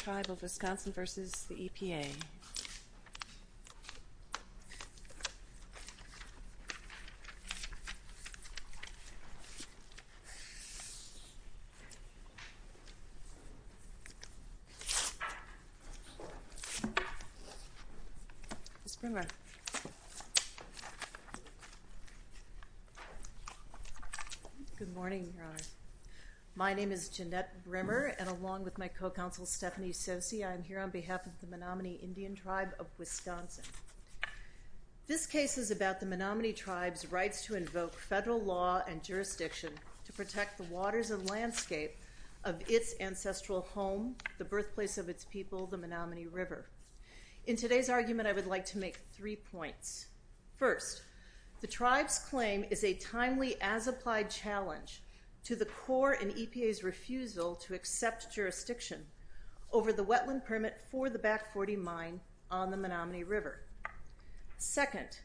Ms. Brimmer. Good morning, Your Honor. My name is Jeannette Brimmer, and along with my co-counsel Stephanie Sosi, I am here on behalf of the Menominee Indian Tribe of Wisconsin. This case is about the Menominee Tribe's rights to invoke federal law and jurisdiction to protect the waters and landscape of its ancestral home, the birthplace of its people, the Menominee River. In today's argument, I would like to make three points. First, the Tribe's claim is a timely, as-applied challenge to the Corps and EPA's refusal to accept jurisdiction over the wetland permit for the Back Forty Mine on the Menominee River. Second,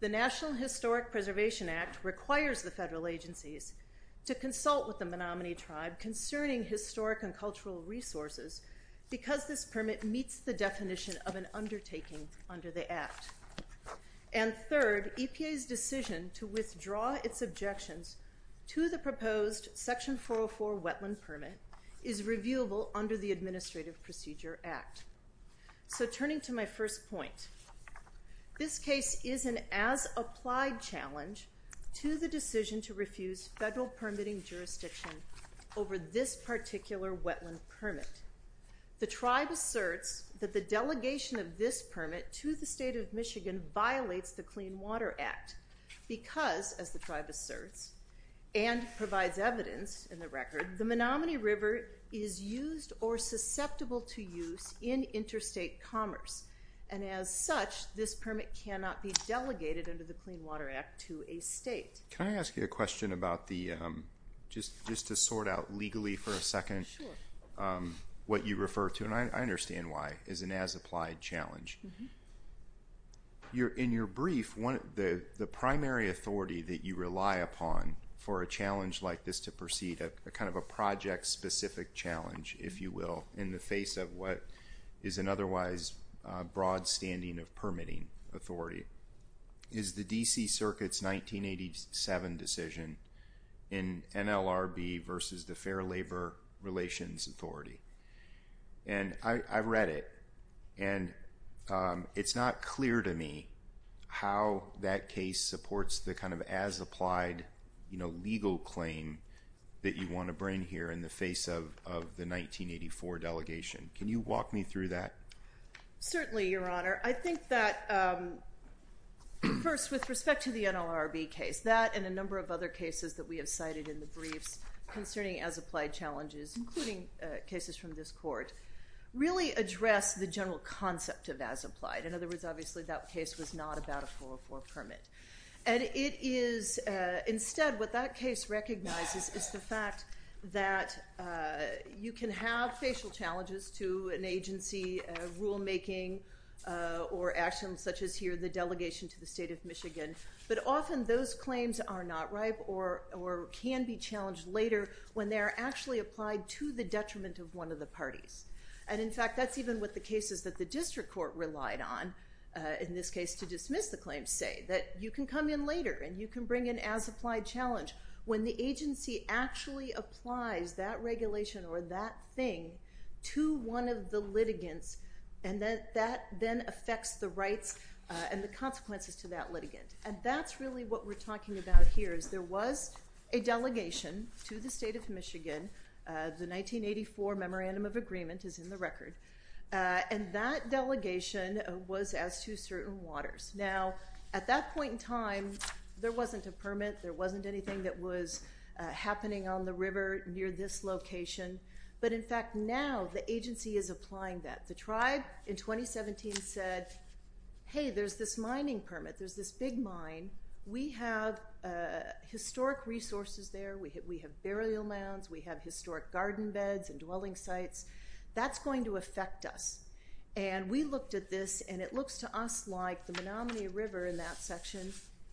the National Historic Preservation Act requires the federal agencies to consult with the Menominee Tribe concerning historic and cultural resources because this permit meets the definition of objections to the proposed Section 404 wetland permit is reviewable under the Administrative Procedure Act. So turning to my first point, this case is an as-applied challenge to the decision to refuse federal permitting jurisdiction over this particular wetland permit. The Tribe asserts that the delegation of this permit to the State of Michigan violates the Clean Water Act because, as the Tribe asserts and provides evidence in the record, the Menominee River is used or susceptible to use in interstate commerce. And as such, this permit cannot be delegated under the Clean Water Act to a state. Can I ask you a question about the, just to sort out legally for a second, what you refer to, and I understand why, is an as-applied challenge. In your brief, the primary authority that you rely upon for a challenge like this to proceed, a kind of a project-specific challenge, if you will, in the face of what is an otherwise broad standing of permitting authority, is the D.C. Circuit's 1987 decision in NLRB versus the Fair Credit. And it's not clear to me how that case supports the kind of as-applied legal claim that you want to bring here in the face of the 1984 delegation. Can you walk me through that? Certainly, Your Honor. I think that, first, with respect to the NLRB case, that and a number of other cases that we have cited in the briefs concerning as-applied challenges, including cases from this Court, really address the general concept of as-applied. In other words, obviously, that case was not about a 404 permit. And it is, instead, what that case recognizes is the fact that you can have facial challenges to an agency rulemaking or actions such as here, the delegation to the state of Michigan, but often those claims are not ripe or can be challenged later when they are actually applied to the detriment of one of the parties. And in fact, that's even what the cases that the District Court relied on, in this case, to dismiss the claims say, that you can come in later and you can bring an as-applied challenge when the agency actually applies that regulation or that thing to one of the litigants, and that then affects the rights and the consequences to that litigant. And that's really what we're talking about here, there was a delegation to the state of Michigan, the 1984 Memorandum of Agreement is in the record, and that delegation was as to certain waters. Now, at that point in time, there wasn't a permit, there wasn't anything that was happening on the river near this location, but in fact, now the agency is applying that. The tribe in 2017 said, hey, there's this mining permit, there's this big mine, we have historic resources there, we have burial mounds, we have historic garden beds and dwelling sites, that's going to affect us. And we looked at this, and it looks to us like the Menominee River in that section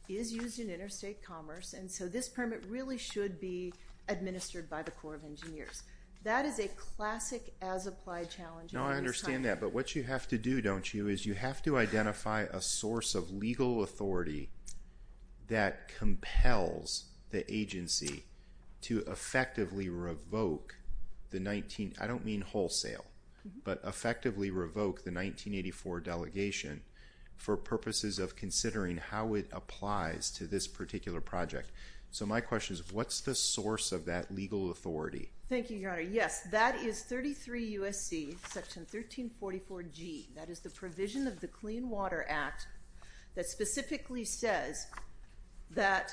is used in interstate commerce, and so this permit really should be administered by the Corps of Engineers. That is a classic as-applied challenge. No, I understand that, but what you have to do, don't you, is you have to have a legal authority that compels the agency to effectively revoke the 19, I don't mean wholesale, but effectively revoke the 1984 delegation for purposes of considering how it applies to this particular project. So my question is, what's the source of that legal authority? Thank you, Your Honor. Yes, that is 33 U.S.C. Section 1344G, that is the provision of the Clean Water Act that specifically says that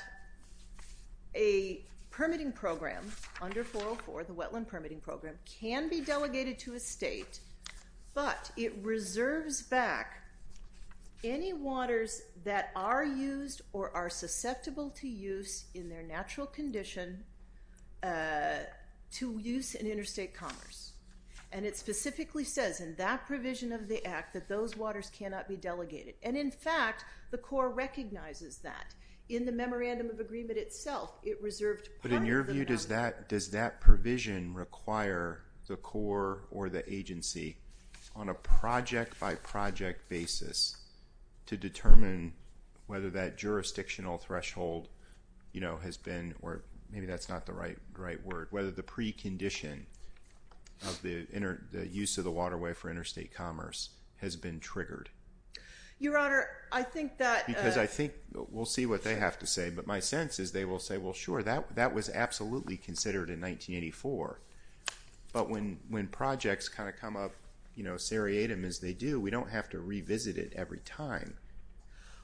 a permitting program under 404, the wetland permitting program, can be delegated to a state, but it reserves back any waters that are used or are susceptible to use in their natural condition to use in interstate commerce. And it specifically says in that the Corps recognizes that. In the Memorandum of Agreement itself, it reserved part of the Menominee River. But in your view, does that provision require the Corps or the agency, on a project-by-project basis, to determine whether that jurisdictional threshold, you know, has been, or maybe that's not the right word, whether the precondition of the use of the waterway for interstate commerce has been triggered? Your Honor, I think that... Because I think, we'll see what they have to say, but my sense is they will say, well, sure, that was absolutely considered in 1984. But when projects kind of come up, you know, seriatim as they do, we don't have to revisit it every time.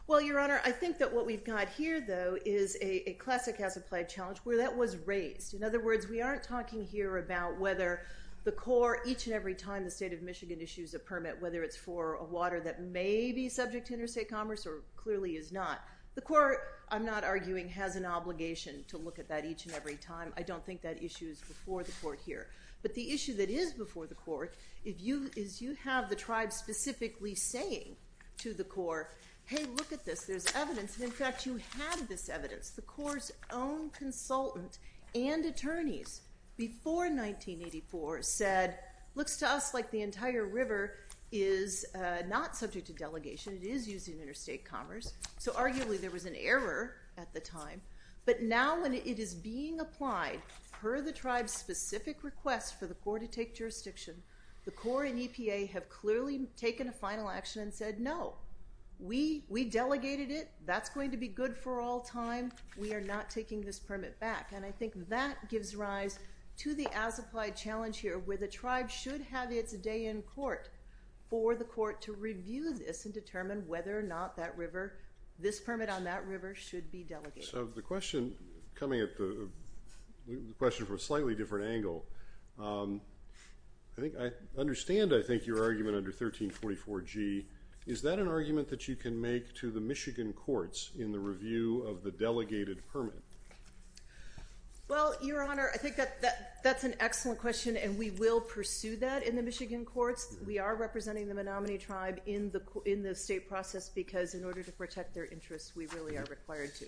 Well, Your Honor, I think that what we've got here, though, is a classic as-applied challenge where that was raised. In other words, we aren't talking here about whether the Corps, each and every time the state of Michigan issues a permit, whether it's for a water that may be subject to interstate commerce or clearly is not. The Corps, I'm not arguing, has an obligation to look at that each and every time. I don't think that issue is before the Court here. But the issue that is before the Court is you have the tribes specifically saying to the Corps, hey, look at this, there's evidence, and in fact, you have this evidence. The Corps' own consultant and attorneys before 1984 said, looks to us like the entire river is not subject to delegation. It is used in interstate commerce. So arguably there was an error at the time. But now when it is being applied per the tribe's specific request for the Corps to take jurisdiction, the Corps and EPA have clearly taken a final action and said, no, we delegated it. That's going to be good for all time. We are not taking this permit back. And I think that gives rise to the as-applied challenge here where the tribe should have its day in court for the Court to review this and determine whether or not that river, this permit on that river should be delegated. So the question coming at the question from a slightly different angle, I think I understand, I think, your argument under 1344G. Is that an argument that you can make to the Michigan courts in the review of the delegated permit? Well, Your Honor, I think that's an excellent question, and we will pursue that in the Michigan courts. We are representing the Menominee tribe in the state process because in order to protect their interests, we really are required to.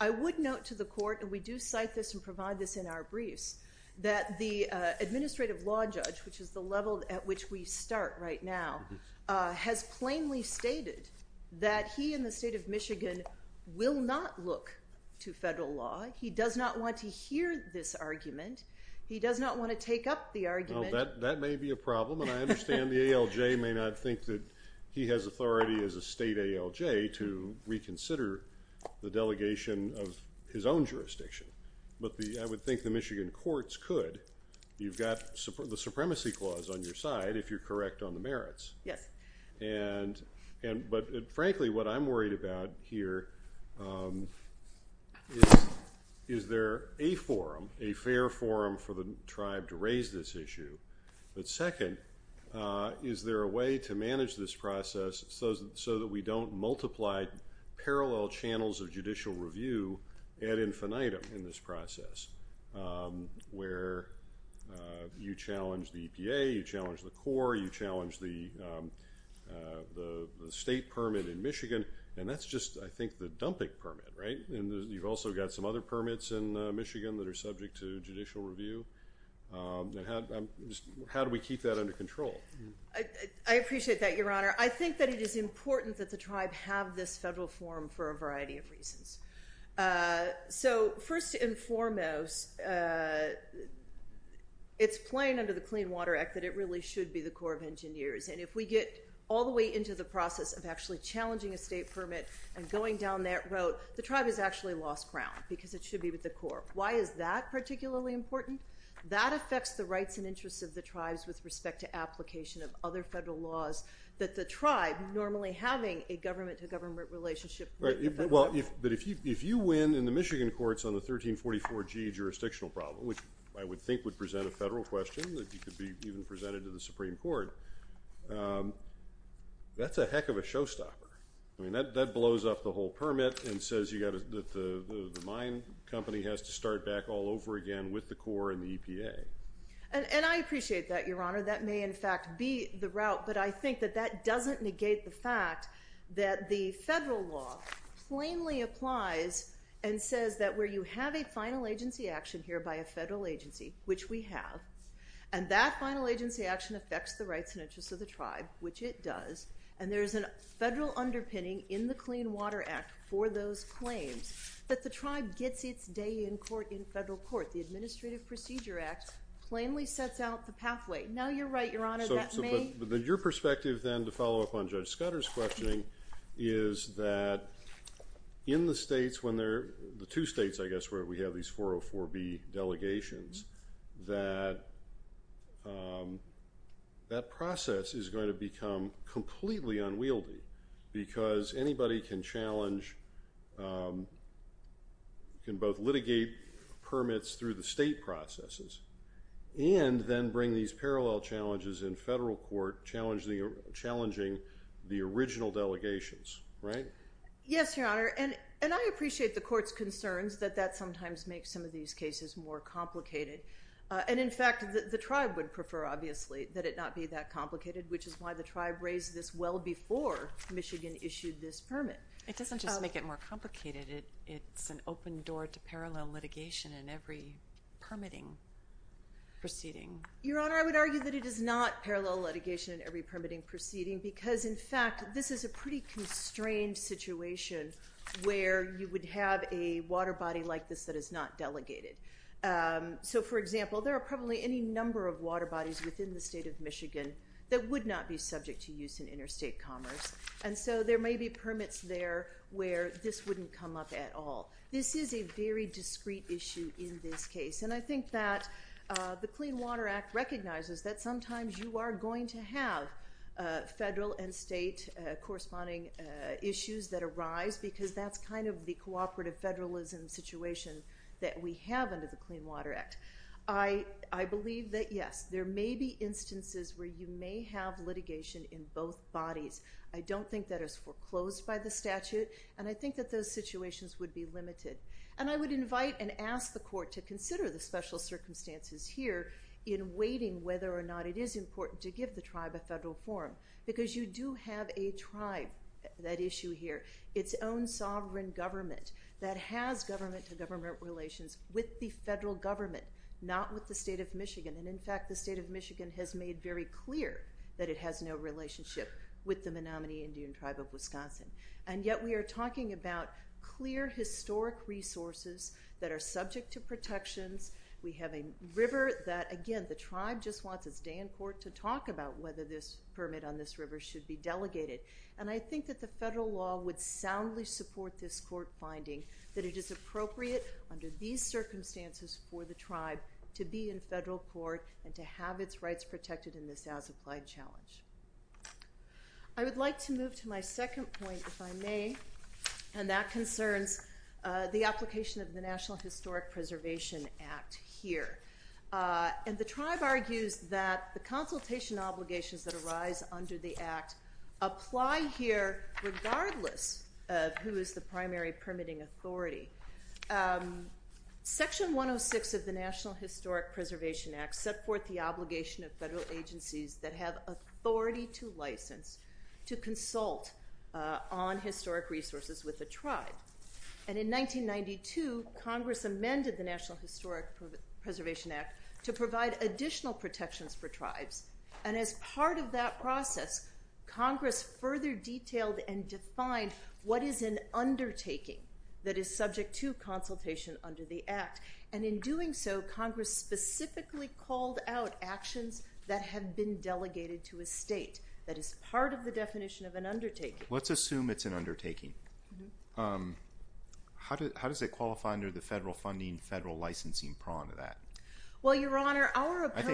I would note to the court, and we do cite this and provide this in our briefs, that the administrative law judge, which is the level at which we start right now, has plainly stated that he in the state of Michigan will not look to federal law. He does not want to hear this argument. He does not want to take up the argument. That may be a problem, and I understand the ALJ may not think that he has authority as a state ALJ to reconsider the delegation of his own jurisdiction. But I would think the Michigan courts could. You've got the supremacy clause on your side if you're correct on the merits. Yes. But frankly, what I'm worried about here is, is there a forum, a fair forum for the tribe to raise this issue? But second, is there a way to manage this process so that we don't multiply parallel channels of judicial review ad infinitum in this process where you challenge the EPA, you challenge the Corps, you challenge the state permit in Michigan, and that's just, I think, the dumping permit, right? And you've also got some other permits in Michigan that are subject to judicial review. How do we keep that under control? I appreciate that, Your Honor. I think that it is important that the tribe have this federal forum for a variety of reasons. So first and foremost, it's plain under the Clean Water Act that it really should be the Corps of Engineers. And if we get all the way into the process of actually challenging a state permit and going down that road, the tribe has actually lost ground because it should be with the Corps. Why is that particularly important? That affects the rights and interests of the tribes with respect to application of other federal laws that the tribe, normally having a government-to-government relationship with the federal government. But if you win in the Michigan courts on the 1344G jurisdictional problem, which I would think would present a federal question that could be even presented to the Supreme Court, that's a heck of a showstopper. I mean, that blows up the whole permit and says the mine company has to start back all over again with the Corps and the EPA. And I appreciate that, Your Honor. That may, in fact, be the route. But I think that that doesn't negate the fact that the federal law plainly applies and says that where you have a final agency action here by a federal agency, which we have, and that final agency action affects the rights and interests of the tribe, which it does, and there is a federal underpinning in the Clean Water Act for those claims, that the tribe gets its day in court in federal court. The Administrative Procedure Act plainly sets out the pathway. Now you're right, Your Honor. But your perspective then, to follow up on Judge Scudder's questioning, is that in the states when they're, the two states, I guess, where we have these 404B delegations, that that process is going to become completely unwieldy because anybody can challenge, can both litigate permits through the state processes and then bring these parallel challenges in federal court challenging the original delegations, right? Yes, Your Honor. And I appreciate the court's concerns that that sometimes makes some of these cases more complicated. And in fact, the tribe would prefer, obviously, that it not be that complicated, which is why the tribe raised this well before Michigan issued this permit. It doesn't just make it more complicated. It's an open door to parallel litigation in every permitting proceeding. Your Honor, I would argue that it is not parallel litigation in every permitting proceeding because, in fact, this is a pretty constrained situation where you would have a water body like this that is not delegated. So, for example, there are probably any number of water bodies within the state of Michigan that would not be subject to use in interstate commerce. And so there may be permits there where this wouldn't come up at all. This is a very discrete issue in this case. And I think that the Clean Water Act recognizes that sometimes you are going to have federal and state corresponding issues that arise because that's kind of the cooperative federalism situation that we have under the Clean Water Act. I believe that, yes, there may be instances where you may have litigation in both bodies. I don't think that is foreclosed by the statute, and I think that those situations would be limited. And I would invite and ask the court to consider the special circumstances here in waiting whether or not it is important to give the tribe a federal forum because you do have a tribe, that issue here, its own sovereign government that has government-to-government relations with the federal government, not with the state of Michigan. And, in fact, the state of Michigan has made very clear that it has no relationship with the Menominee Indian Tribe of Wisconsin. And yet we are talking about clear historic resources that are subject to protections. We have a river that, again, the tribe just wants its day in court to talk about whether this permit on this river should be delegated. And I think that the federal law would soundly support this court finding that it is appropriate under these circumstances for the tribe to be in federal court and to have its rights protected in this as-applied challenge. I would like to move to my second point, if I may, and that concerns the application of the National Historic Preservation Act here. And the tribe argues that the consultation obligations that arise under the act apply here regardless of who is the primary permitting authority. Section 106 of the National Historic Preservation Act set forth the obligation of federal agencies that have authority to license to consult on historic resources with the tribe. And in 1992, Congress amended the National Historic Preservation Act to provide additional protections for tribes. And as part of that process, Congress further detailed and defined what is an undertaking that is subject to consultation under the act. And in doing so, Congress specifically called out actions that have been delegated to a state that is part of the definition of an undertaking. Let's assume it's an undertaking. How does it qualify under the federal funding, federal licensing prong of that? Well, Your Honor, our opponents...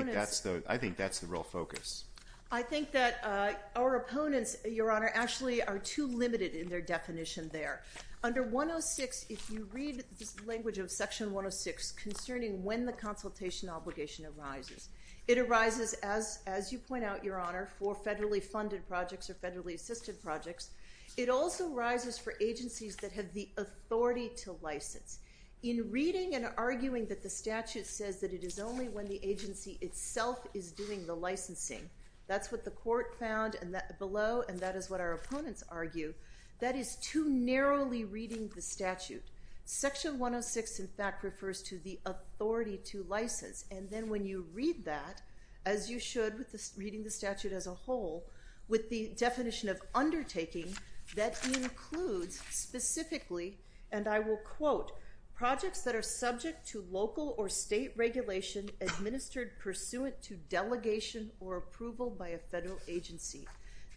I think that's the real focus. I think that our opponents, Your Honor, actually are too limited in their definition there. Under 106, if you read the language of Section 106 concerning when the consultation obligation arises, it arises, as you point out, Your Honor, for federally funded projects or federally assisted projects. It also arises for agencies that have the authority to license. In reading and arguing that the statute says that it is only when the agency itself is doing the licensing, that's what the court found below, and that is what our opponents argue, that is too narrowly reading the statute. Section 106, in fact, refers to the authority to license. And then when you read that, as you should with reading the statute as a whole, with the definition of undertaking, that includes specifically, and I will quote, projects that are subject to local or state regulation administered pursuant to delegation or approval by a federal agency.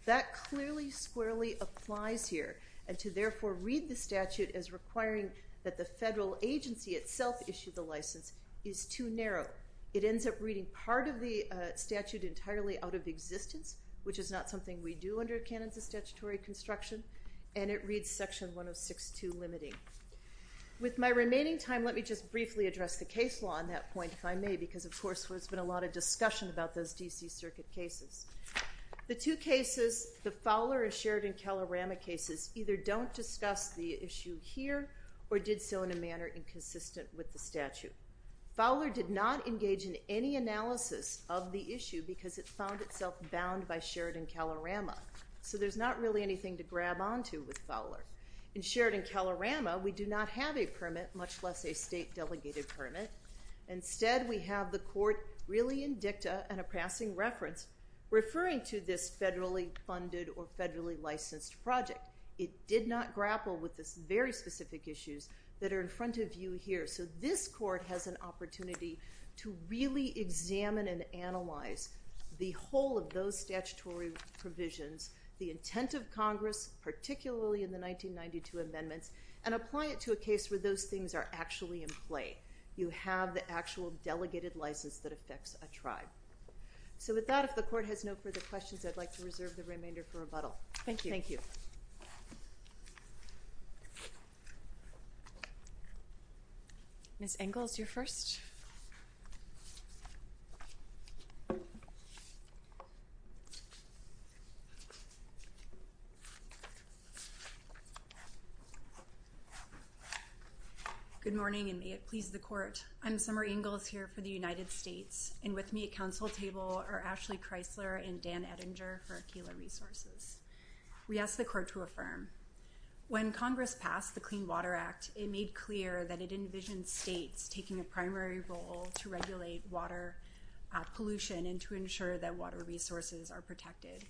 That clearly squarely applies here, and to therefore read the statute as requiring that the federal agency itself issue the license is too narrow. It ends up reading part of the statute entirely out of existence, which is not something we do under a canon of statutory construction, and it reads Section 106-2 limiting. With my remaining time, let me just briefly address the case law on that point, if I may, because, of course, there's been a lot of discussion about those D.C. Circuit cases. The two cases, the Fowler and Sheridan-Calarama cases, either don't discuss the issue here or did so in a manner inconsistent with the statute. Fowler did not engage in any analysis of the issue because it found itself bound by Sheridan-Calarama, so there's not really anything to grab onto with Fowler. In Sheridan-Calarama, we do not have a permit, much less a state delegated permit. Instead, we have the court really in dicta and a passing reference referring to this federally funded or federally licensed project. It did not grapple with the very specific issues that are in front of you here, so this court has an opportunity to really examine and analyze the whole of those statutory provisions, the intent of Congress, particularly in the 1992 amendments, you have the actual delegated license that affects a tribe. So with that, if the court has no further questions, I'd like to reserve the remainder for rebuttal. Thank you. Thank you. Ms. Engel is your first. Good morning, and may it please the court. I'm Summer Engel. I'm here for the United States, and with me at council table are Ashley Kreisler and Dan Ettinger for Akela Resources. We ask the court to affirm. When Congress passed the Clean Water Act, of clean water in the United States. to regulate water pollution and to ensure that water resources are protected.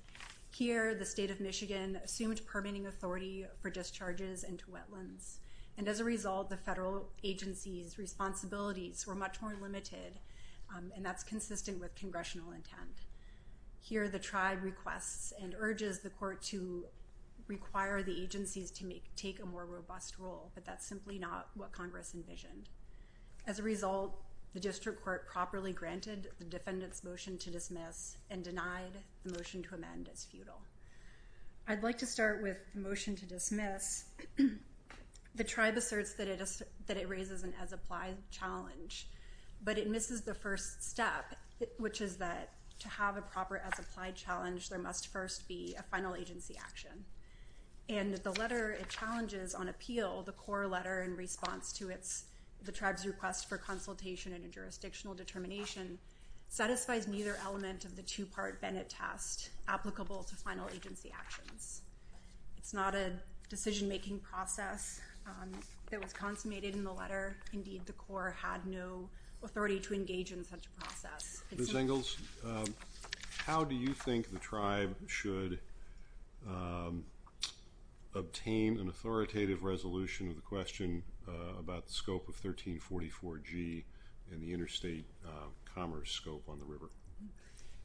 Here, the state of Michigan assumed permitting authority for discharges into wetlands, and as a result, the federal agencies' responsibilities were much more limited, and that's consistent with congressional intent. Here, the tribe requests and urges the court to require the agencies to take a more robust role, but that's simply not what Congress envisioned. As a result, the district court properly granted the defendant's motion to dismiss and denied the motion to amend as futile. I'd like to start with the motion to dismiss. The tribe asserts that it raises an as-applied challenge, but it misses the first step, which is that to have a proper as-applied challenge, there must first be a final agency action, and the letter challenges on appeal the core letter in response to the tribe's request for consultation and a jurisdictional determination satisfies neither element of the two-part Bennett test applicable to final agency actions. It's not a decision-making process that was consummated in the letter. Indeed, the court had no authority to engage in such a process. Ms. Engels, how do you think the tribe should obtain an authoritative resolution of the question about the scope of 1344G and the interstate commerce scope on the river?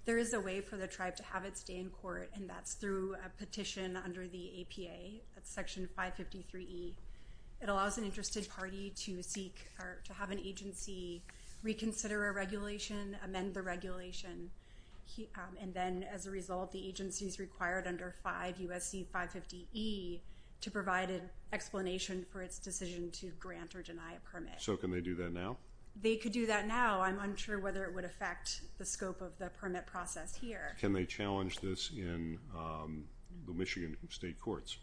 There is a way for the tribe to have it stay in court, and that's through a petition under the APA, that's Section 553E. It allows an interested party to seek or to have an agency reconsider a regulation, amend the regulation, and then, as a result, the agency's required under 5 U.S.C. 550E to provide an explanation for its decision to grant or deny a permit. So can they do that now? They could do that now. I'm unsure whether it would affect the scope of the permit process here. Can they challenge this in the Michigan state courts?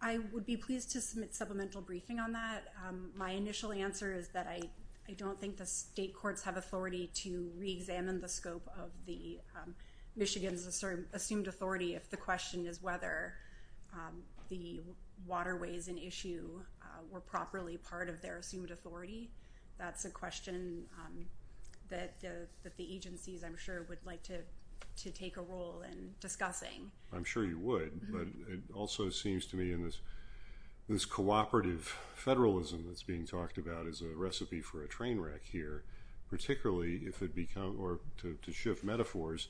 I would be pleased to submit supplemental briefing on that. My initial answer is that I don't think the state courts have authority to reexamine the scope of Michigan's assumed authority if the question is whether the waterways in issue were properly part of their assumed authority. That's a question that the agencies, I'm sure, would like to take a role in discussing. I'm sure you would, but it also seems to me in this cooperative federalism that's being talked about as a recipe for a train wreck here, particularly if it becomes, or to shift metaphors,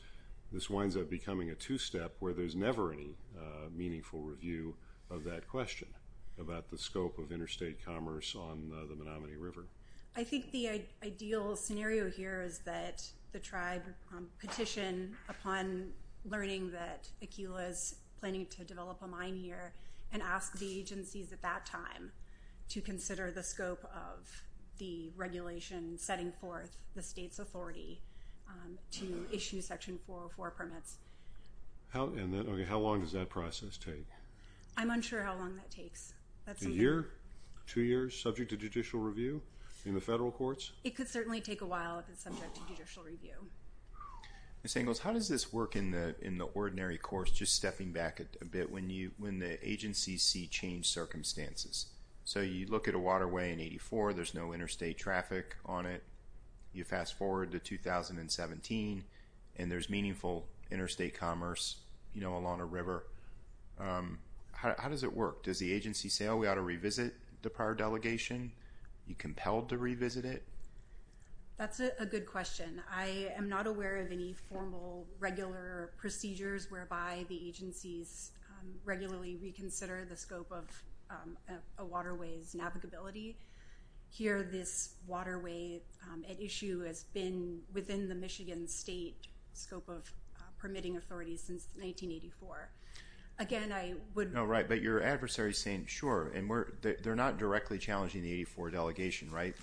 this winds up becoming a two-step where there's never any meaningful review of that question about the scope of interstate commerce on the Menominee River. I think the ideal scenario here is that the tribe petition upon learning that Aquila is planning to develop a mine here and ask the agencies at that time to consider the scope of the regulation setting forth the state's authority to issue Section 404 permits. How long does that process take? I'm unsure how long that takes. A year, two years, subject to judicial review in the federal courts? It could certainly take a while if it's subject to judicial review. Ms. Angles, how does this work in the ordinary course, just stepping back a bit, when the agencies see changed circumstances? So you look at a waterway in 84. There's no interstate traffic on it. You fast-forward to 2017, and there's meaningful interstate commerce along a river. How does it work? Does the agency say, oh, we ought to revisit the prior delegation? Are you compelled to revisit it? That's a good question. I am not aware of any formal, regular procedures whereby the agencies regularly reconsider the scope of a waterway's navigability. Here, this waterway at issue has been within the Michigan State scope of permitting authorities since 1984. Again, I would... No, right, but your adversary is saying, sure, and they're not directly challenging the 84 delegation, right?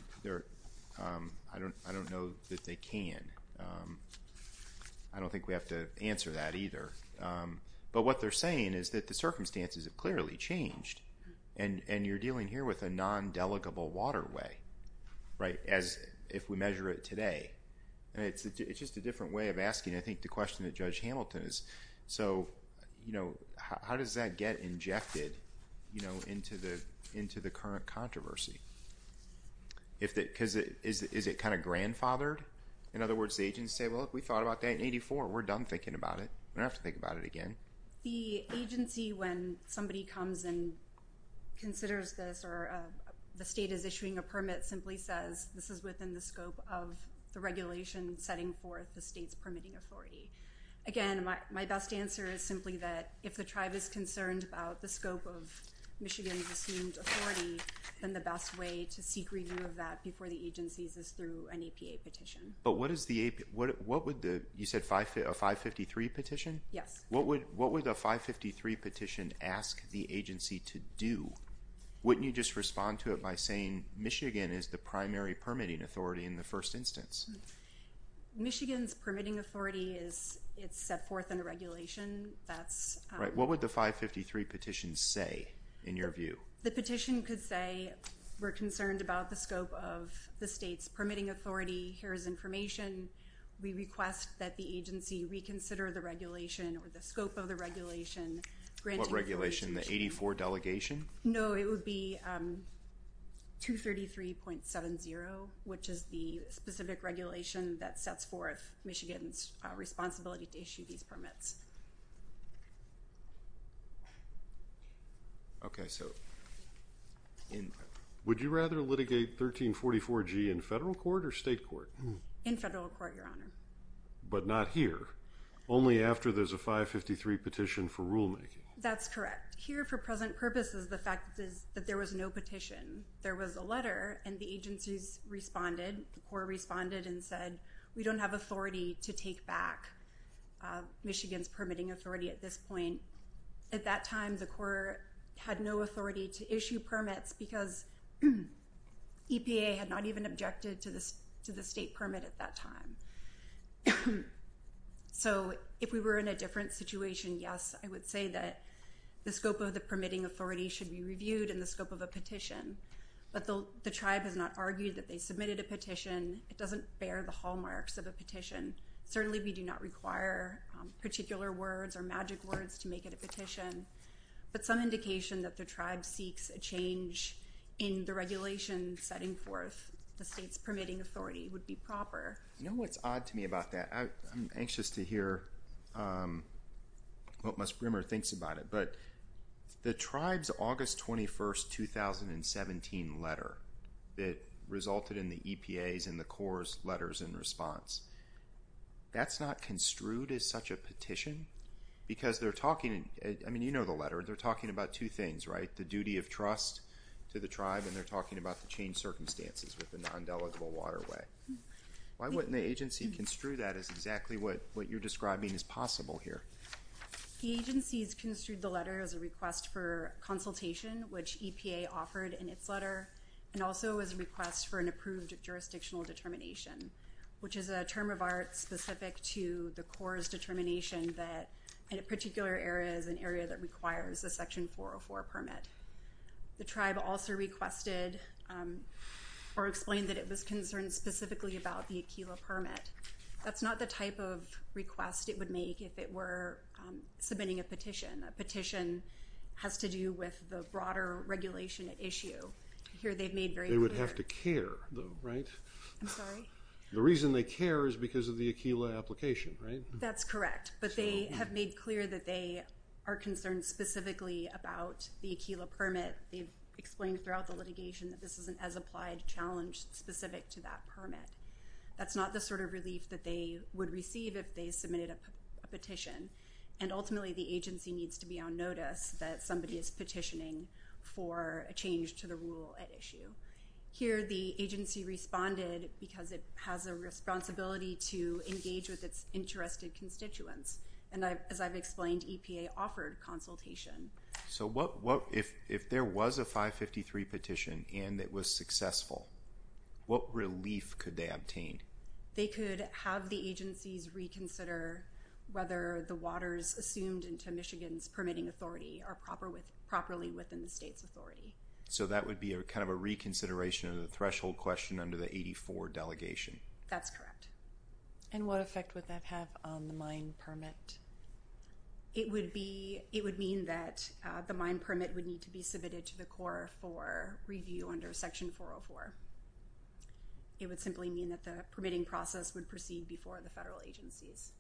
I don't know that they can. I don't think we have to answer that either. But what they're saying is that the circumstances have clearly changed, and you're dealing here with a non-delegable waterway, right, as if we measure it today. And it's just a different way of asking, I think, the question that Judge Hamilton is, so, you know, how does that get injected, you know, into the current controversy? Because is it kind of grandfathered? In other words, the agents say, well, if we thought about that in 84, we're done thinking about it. We don't have to think about it again. The agency, when somebody comes and considers this or the state is issuing a permit, simply says this is within the scope of the regulation setting forth the state's permitting authority. Again, my best answer is simply that if the tribe is concerned about the scope of Michigan's assumed authority, then the best way to seek review of that before the agencies is through an APA petition. But what is the APA, what would the, you said a 553 petition? Yes. What would a 553 petition ask the agency to do? Wouldn't you just respond to it by saying Michigan is the primary permitting authority in the first instance? Michigan's permitting authority is, it's set forth under regulation, that's... Right, what would the 553 petition say, in your view? The petition could say we're concerned about the scope of the state's permitting authority. Here is information. We request that the agency reconsider the regulation or the scope of the regulation. What regulation, the 84 delegation? No, it would be 233.70, which is the specific regulation that sets forth Michigan's responsibility to issue these permits. Okay, so... Would you rather litigate 1344G in federal court or state court? In federal court, Your Honor. But not here. Only after there's a 553 petition for rulemaking. That's correct. Here, for present purposes, the fact is that there was no petition. There was a letter, and the agencies responded, the court responded and said, we don't have authority to take back Michigan's permitting authority at this point. At that time, the court had no authority to issue permits because EPA had not even objected to the state permit at that time. So if we were in a different situation, yes, I would say that the scope of the permitting authority should be reviewed and the scope of a petition. But the tribe has not argued that they submitted a petition. It doesn't bear the hallmarks of a petition. Certainly, we do not require particular words or magic words to make it a petition. But some indication that the tribe seeks a change in the regulation setting forth the state's permitting authority would be proper. You know what's odd to me about that? I'm anxious to hear what Ms. Brimmer thinks about it. But the tribe's August 21, 2017 letter that resulted in the EPA's and the Corps' letters in response, that's not construed as such a petition? Because they're talking, I mean, you know the letter, they're talking about two things, right? The duty of trust to the tribe and they're talking about the changed circumstances with the non-delegable waterway. Why wouldn't the agency construe that as exactly what you're describing as possible here? The agency has construed the letter as a request for consultation, which EPA offered in its letter, and also as a request for an approved jurisdictional determination, which is a term of art specific to the Corps' determination that a particular area is an area that requires a Section 404 permit. The tribe also requested or explained that it was concerned specifically about the Aquila permit. That's not the type of request it would make if it were submitting a petition. A petition has to do with the broader regulation issue. Here they've made very clear... They would have to care, though, right? I'm sorry? The reason they care is because of the Aquila application, right? That's correct, but they have made clear that they are concerned specifically about the Aquila permit. They've explained throughout the litigation that this is an as-applied challenge specific to that permit. That's not the sort of relief that they would receive if they submitted a petition, and ultimately the agency needs to be on notice that somebody is petitioning for a change to the rule at issue. Here the agency responded because it has a responsibility to engage with its interested constituents. And as I've explained, EPA offered consultation. So if there was a 553 petition and it was successful, what relief could they obtain? They could have the agencies reconsider whether the waters assumed into Michigan's permitting authority are properly within the state's authority. So that would be kind of a reconsideration of the threshold question under the 84 delegation? That's correct. And what effect would that have on the mine permit? It would mean that the mine permit would need to be submitted to the Corps for review under Section 404. It would simply mean that the permitting process would proceed before the federal agencies.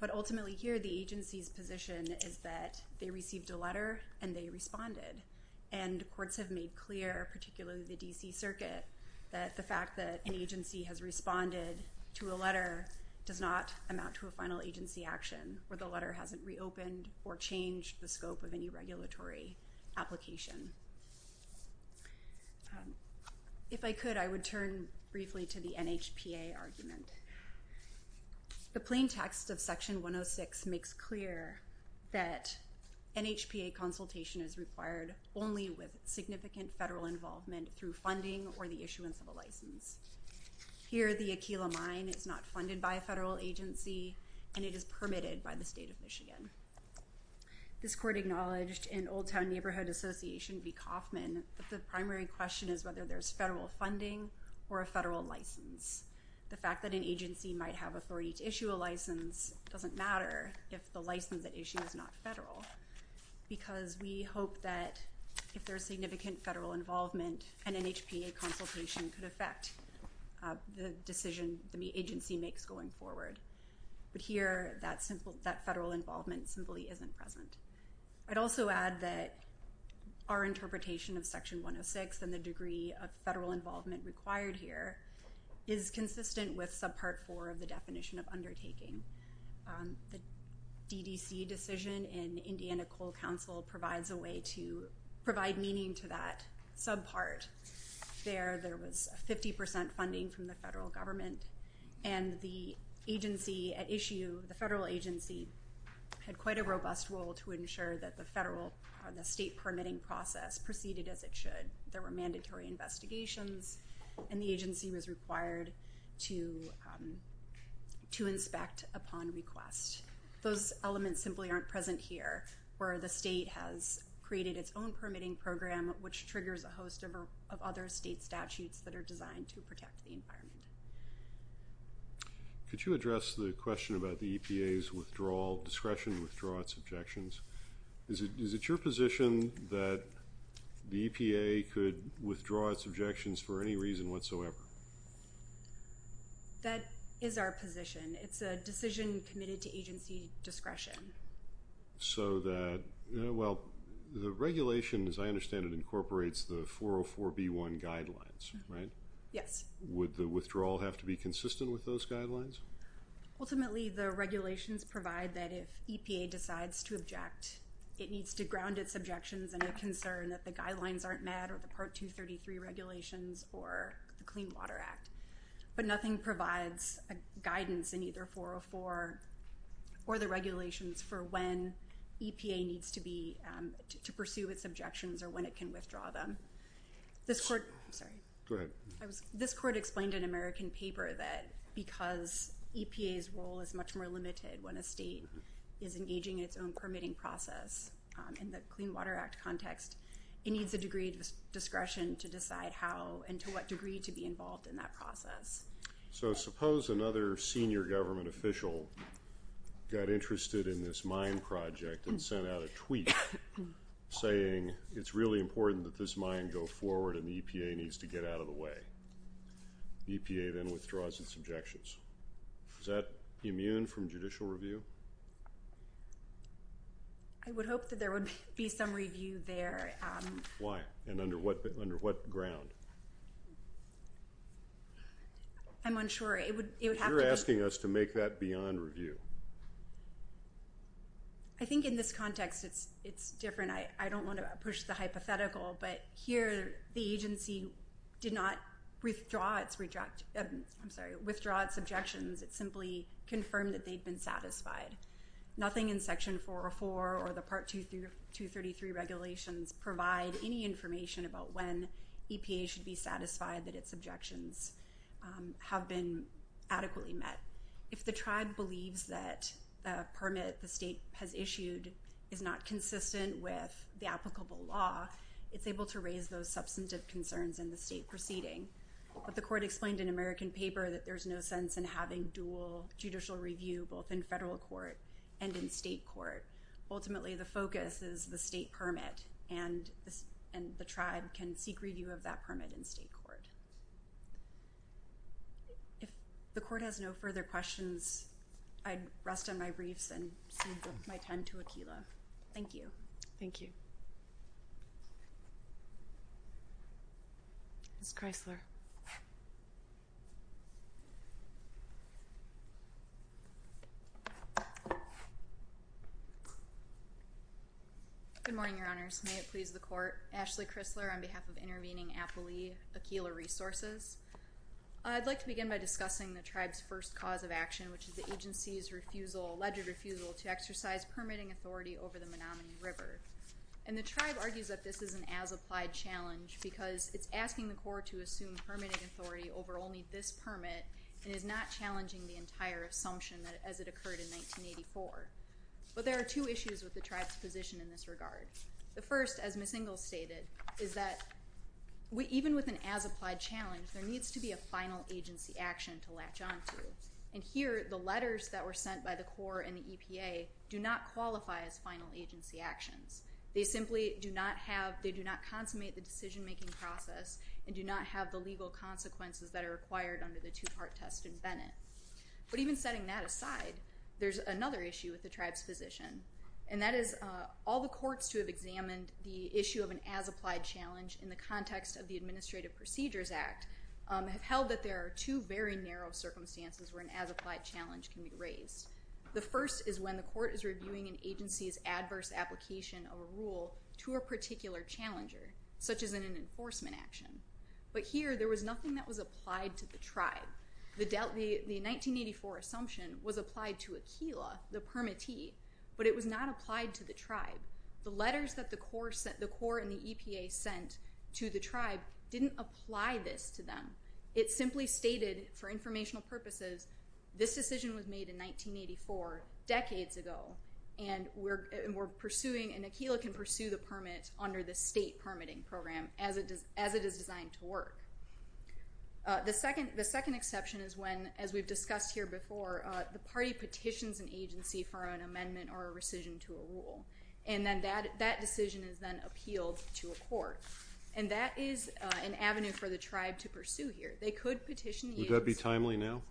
But ultimately here the agency's position is that they received a letter and they responded. And courts have made clear, particularly the D.C. Circuit, that the fact that an agency has responded to a letter does not amount to a final agency action where the letter hasn't reopened or changed the scope of any regulatory application. If I could, I would turn briefly to the NHPA argument. The plain text of Section 106 makes clear that NHPA consultation is required only with significant federal involvement through funding or the issuance of a license. Here the Aquila Mine is not funded by a federal agency and it is permitted by the state of Michigan. This court acknowledged in Old Town Neighborhood Association v. Kauffman that the primary question is whether there's federal funding or a federal license. The fact that an agency might have authority to issue a license doesn't matter if the license at issue is not federal because we hope that if there's significant federal involvement an NHPA consultation could affect the decision the agency makes going forward. But here that federal involvement simply isn't present. I'd also add that our interpretation of Section 106 and the degree of federal involvement required here is consistent with Subpart 4 of the definition of undertaking. The DDC decision in Indiana Coal Council provides a way to provide meaning to that subpart. There was 50% funding from the federal government and the agency at issue, the federal agency, had quite a robust role to ensure that the state permitting process proceeded as it should. There were mandatory investigations and the agency was required to inspect upon request. Those elements simply aren't present here where the state has created its own permitting program which triggers a host of other state statutes that are designed to protect the environment. Could you address the question about the EPA's withdrawal, discretion to withdraw its objections? Is it your position that the EPA could withdraw its objections for any reason whatsoever? That is our position. It's a decision committed to agency discretion. So that, well, the regulation, as I understand it, incorporates the 404B1 guidelines, right? Yes. Would the withdrawal have to be consistent with those guidelines? Ultimately, the regulations provide that if EPA decides to object, it needs to ground its objections in a concern that the guidelines aren't met or the Part 233 regulations or the Clean Water Act. But nothing provides a guidance in either 404 or the regulations for when EPA needs to pursue its objections or when it can withdraw them. This court explained in an American paper that because EPA's role is much more limited when a state is engaging in its own permitting process in the Clean Water Act context, it needs a degree of discretion to decide how and to what degree to be involved in that process. So suppose another senior government official got interested in this mine project and sent out a tweet saying, it's really important that this mine go forward and the EPA needs to get out of the way. EPA then withdraws its objections. Is that immune from judicial review? I would hope that there would be some review there. Why? And under what ground? I'm unsure. You're asking us to make that beyond review. I think in this context, it's different. I don't want to push the hypothetical, but here the agency did not withdraw its objections. It simply confirmed that they'd been satisfied. Nothing in Section 404 or the Part 233 regulations provide any information about when EPA should be satisfied that its objections have been adequately met. If the tribe believes that the permit the state has issued is not consistent with the applicable law, it's able to raise those substantive concerns in the state proceeding. But the court explained in American paper that there's no sense in having dual judicial review both in federal court and in state court. Ultimately, the focus is the state permit and the tribe can seek review of that permit in state court. If the court has no further questions, I'd rest on my briefs and cede my time to Akilah. Thank you. Thank you. Ms. Kreisler. Good morning, Your Honors. May it please the court. Ashley Kreisler on behalf of intervening Appalooey Akilah Resources. I'd like to begin by discussing the tribe's first cause of action, which is the agency's refusal, alleged refusal, to exercise permitting authority over the Menominee River. And the tribe argues that this is an as-applied challenge because it's asking the court to assume permitting authority over only this permit and is not challenging the entire assumption as it occurred in 1984. But there are two issues with the tribe's position in this regard. The first, as Ms. Ingalls stated, is that even with an as-applied challenge, there needs to be a final agency action to latch on to. And here, the letters that were sent by the court and the EPA do not qualify as final agency actions. They simply do not consummate the decision-making process and do not have the legal consequences that are required under the two-part test in Bennett. But even setting that aside, there's another issue with the tribe's position, and that is all the courts to have examined the issue of an as-applied challenge in the context of the Administrative Procedures Act where an as-applied challenge can be raised. The first is when the court is reviewing an agency's adverse application of a rule to a particular challenger, such as in an enforcement action. But here, there was nothing that was applied to the tribe. The 1984 assumption was applied to Aquila, the permittee, but it was not applied to the tribe. The letters that the court and the EPA sent to the tribe didn't apply this to them. It simply stated, for informational purposes, this decision was made in 1984, decades ago, and we're pursuing, and Aquila can pursue the permit under the state permitting program as it is designed to work. The second exception is when, as we've discussed here before, the party petitions an agency for an amendment or a rescission to a rule, and then that decision is then appealed to a court. And that is an avenue for the tribe to pursue here. They could petition the agency. Would that be timely now?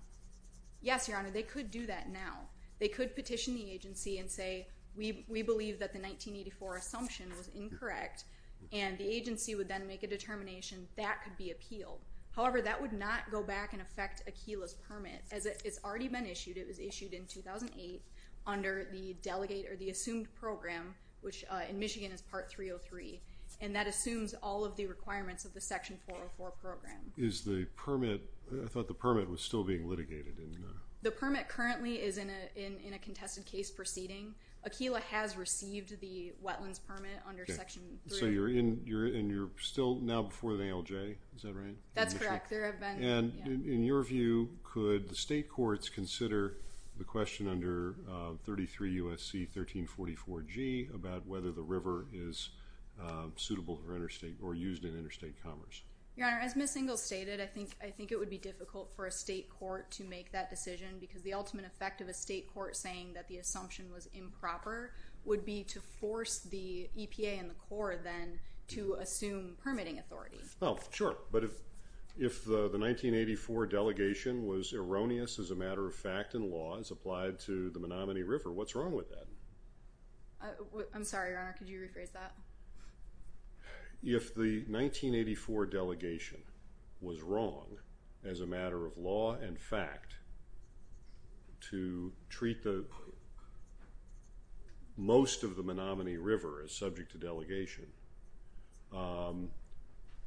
Yes, Your Honor, they could do that now. They could petition the agency and say, we believe that the 1984 assumption was incorrect, and the agency would then make a determination that could be appealed. However, that would not go back and affect Aquila's permit, as it's already been issued. It was issued in 2008 under the assumed program, which in Michigan is Part 303, and that assumes all of the requirements of the Section 404 program. I thought the permit was still being litigated. The permit currently is in a contested case proceeding. Aquila has received the wetlands permit under Section 3. So you're still now before the ALJ. Is that right? That's correct. In your view, could the state courts consider the question under 33 U.S.C. 1344G about whether the river is suitable for interstate or used in interstate commerce? Your Honor, as Ms. Ingalls stated, I think it would be difficult for a state court to make that decision, because the ultimate effect of a state court saying that the assumption was improper would be to force the EPA and the Corps then to assume permitting authority. Oh, sure. But if the 1984 delegation was erroneous as a matter of fact in law as applied to the Menominee River, what's wrong with that? I'm sorry, Your Honor. Could you rephrase that? If the 1984 delegation was wrong as a matter of law and fact to treat most of the Menominee River as subject to delegation,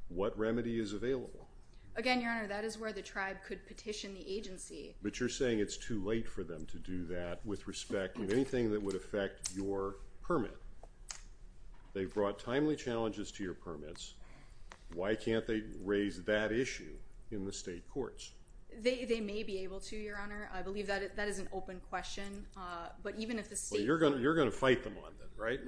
what remedy is available? Again, Your Honor, that is where the tribe could petition the agency. But you're saying it's too late for them to do that with respect to anything that would affect your permit. Sure. They've brought timely challenges to your permits. Why can't they raise that issue in the state courts? They may be able to, Your Honor. I believe that is an open question. But you're going to fight them on that, right?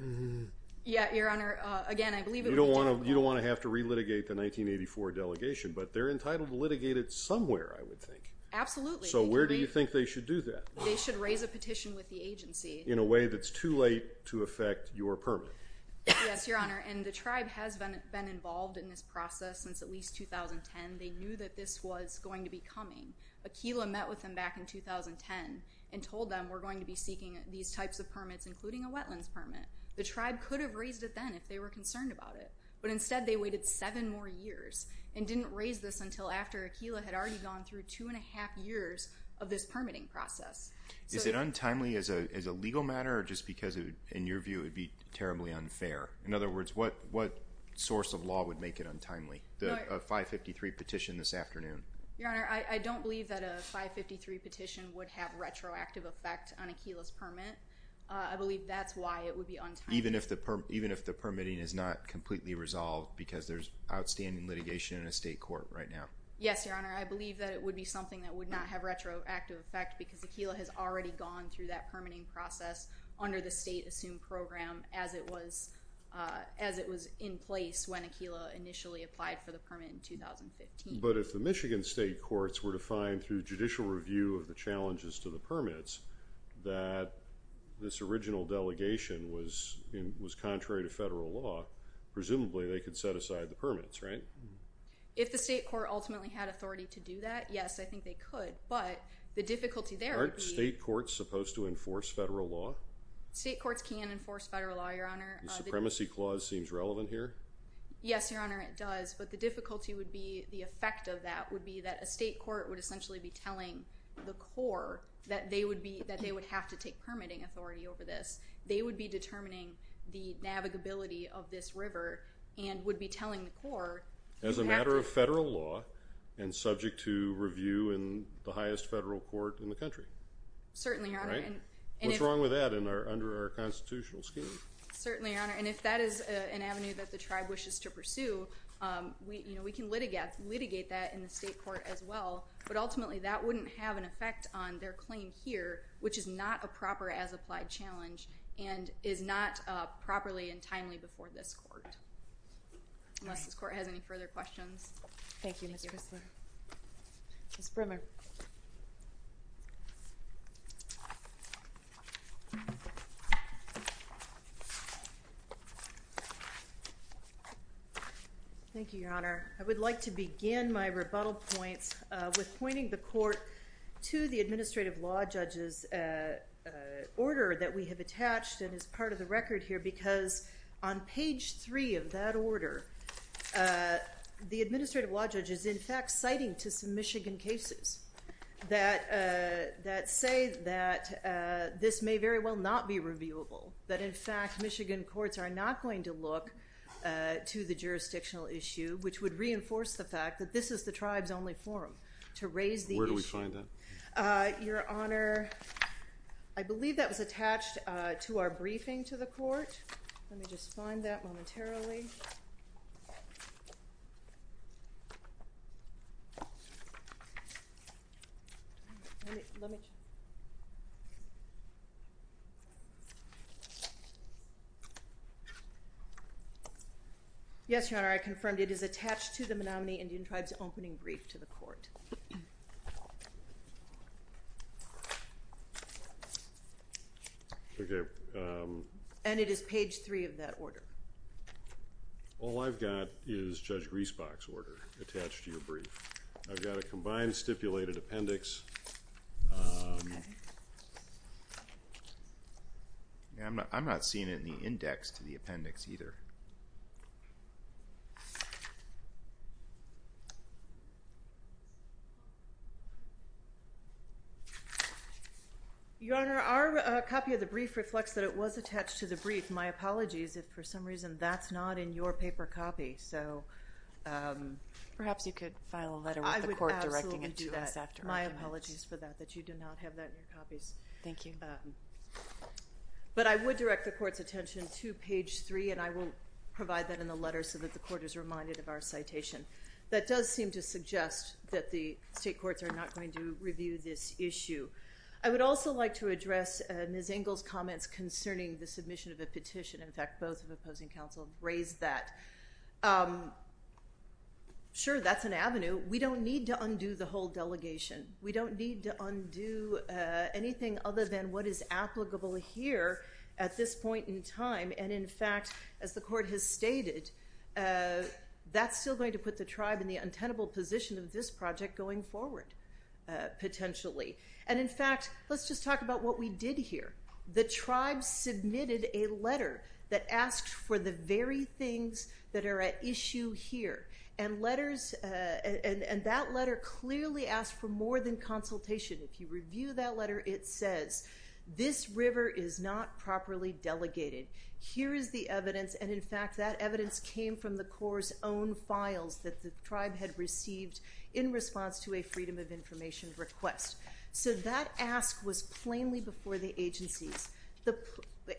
Yeah, Your Honor. Again, I believe it would be difficult. You don't want to have to relitigate the 1984 delegation, but they're entitled to litigate it somewhere, I would think. Absolutely. So where do you think they should do that? They should raise a petition with the agency. In a way that's too late to affect your permit. Yes, Your Honor. And the tribe has been involved in this process since at least 2010. They knew that this was going to be coming. Aquila met with them back in 2010 and told them, we're going to be seeking these types of permits, including a wetlands permit. The tribe could have raised it then if they were concerned about it. But instead, they waited seven more years and didn't raise this until after Aquila had already gone through two and a half years of this permitting process. Is it untimely as a legal matter, or just because in your view it would be terribly unfair? In other words, what source of law would make it untimely, a 553 petition this afternoon? Your Honor, I don't believe that a 553 petition would have retroactive effect on Aquila's permit. I believe that's why it would be untimely. Even if the permitting is not completely resolved because there's outstanding litigation in a state court right now? Yes, Your Honor. I believe that it would be something that would not have retroactive effect because Aquila has already gone through that permitting process under the state assumed program as it was in place when Aquila initially applied for the permit in 2015. But if the Michigan state courts were to find, through judicial review of the challenges to the permits, that this original delegation was contrary to federal law, presumably they could set aside the permits, right? If the state court ultimately had authority to do that, yes, I think they could. But the difficulty there would be— Aren't state courts supposed to enforce federal law? State courts can enforce federal law, Your Honor. The supremacy clause seems relevant here. Yes, Your Honor, it does. But the difficulty would be the effect of that would be that a state court would essentially be telling the Corps that they would have to take permitting authority over this. They would be determining the navigability of this river and would be telling the Corps— As a matter of federal law and subject to review in the highest federal court in the country. Certainly, Your Honor. What's wrong with that under our constitutional scheme? Certainly, Your Honor. And if that is an avenue that the tribe wishes to pursue, we can litigate that in the state court as well, but ultimately that wouldn't have an effect on their claim here, which is not a proper as-applied challenge and is not properly and timely before this court. Unless this court has any further questions. Thank you, Ms. Crisler. Ms. Brimmer. Thank you, Your Honor. I would like to begin my rebuttal points with pointing the court to the administrative law judge's order that we have attached and is part of the record here because on page three of that order, the administrative law judge is in fact citing to some Michigan cases that say that this may very well not be reviewable, that in fact Michigan courts are not going to look to the jurisdictional issue, which would reinforce the fact that this is the tribe's only forum to raise the issue. Where do we find that? Your Honor, I believe that was attached to our briefing to the court. Let me just find that momentarily. Yes, Your Honor, I confirmed. It is attached to the Menominee Indian Tribes opening brief to the court. Okay. And it is page three of that order. All I've got is Judge Griesbach's order attached to your brief. I've got a combined stipulated appendix. I'm not seeing it in the index to the appendix either. Your Honor, our copy of the brief reflects that it was attached to the brief. My apologies if for some reason that's not in your paper copy. Perhaps you could file a letter with the court directing it to us. I would absolutely do that. My apologies for that, that you do not have that in your copies. Thank you. But I would direct the court's attention to page three, and I will provide that in the letter so that the court is reminded of our citation. That does seem to suggest that the state courts are not going to review this issue. I would also like to address Ms. Engel's comments concerning the submission of a petition. In fact, both of the opposing counsel raised that. Sure, that's an avenue. We don't need to undo the whole delegation. We don't need to undo anything other than what is applicable here at this point in time. And, in fact, as the court has stated, that's still going to put the tribe in the untenable position of this issue. And, in fact, let's just talk about what we did here. The tribe submitted a letter that asked for the very things that are at issue here. And that letter clearly asked for more than consultation. If you review that letter, it says, this river is not properly delegated. Here is the evidence. The federal government had received in response to a freedom of information request. So that ask was plainly before the agencies. The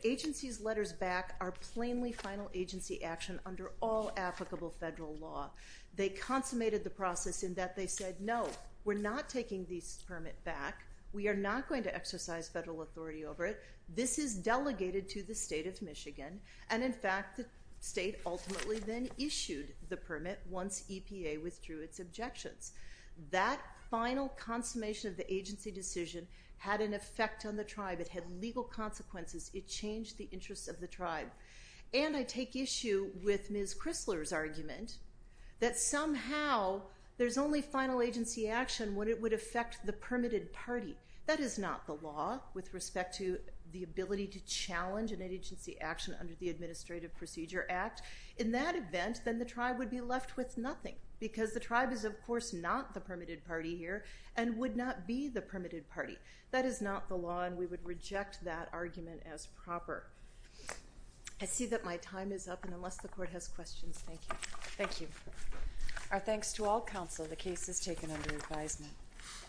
agency's letters back are plainly final agency action under all applicable federal law. They consummated the process in that they said, no, we're not taking this permit back. We are not going to exercise federal authority over it. This is delegated to the state of Michigan. And, in fact, the state ultimately then issued the permit once EPA withdrew its objections. That final consummation of the agency decision had an effect on the tribe. It had legal consequences. It changed the interests of the tribe. And I take issue with Ms. Chrysler's argument that somehow there's only final agency action when it would affect the permitted party. That is not the law with respect to the ability to challenge an agency action under the Administrative Procedure Act. In that event, then the tribe would be left with nothing, because the tribe is, of course, not the permitted party here and would not be the permitted party. That is not the law, and we would reject that argument as proper. I see that my time is up, and unless the court has questions, thank you. Thank you. Our thanks to all counsel. The case is taken under advisement.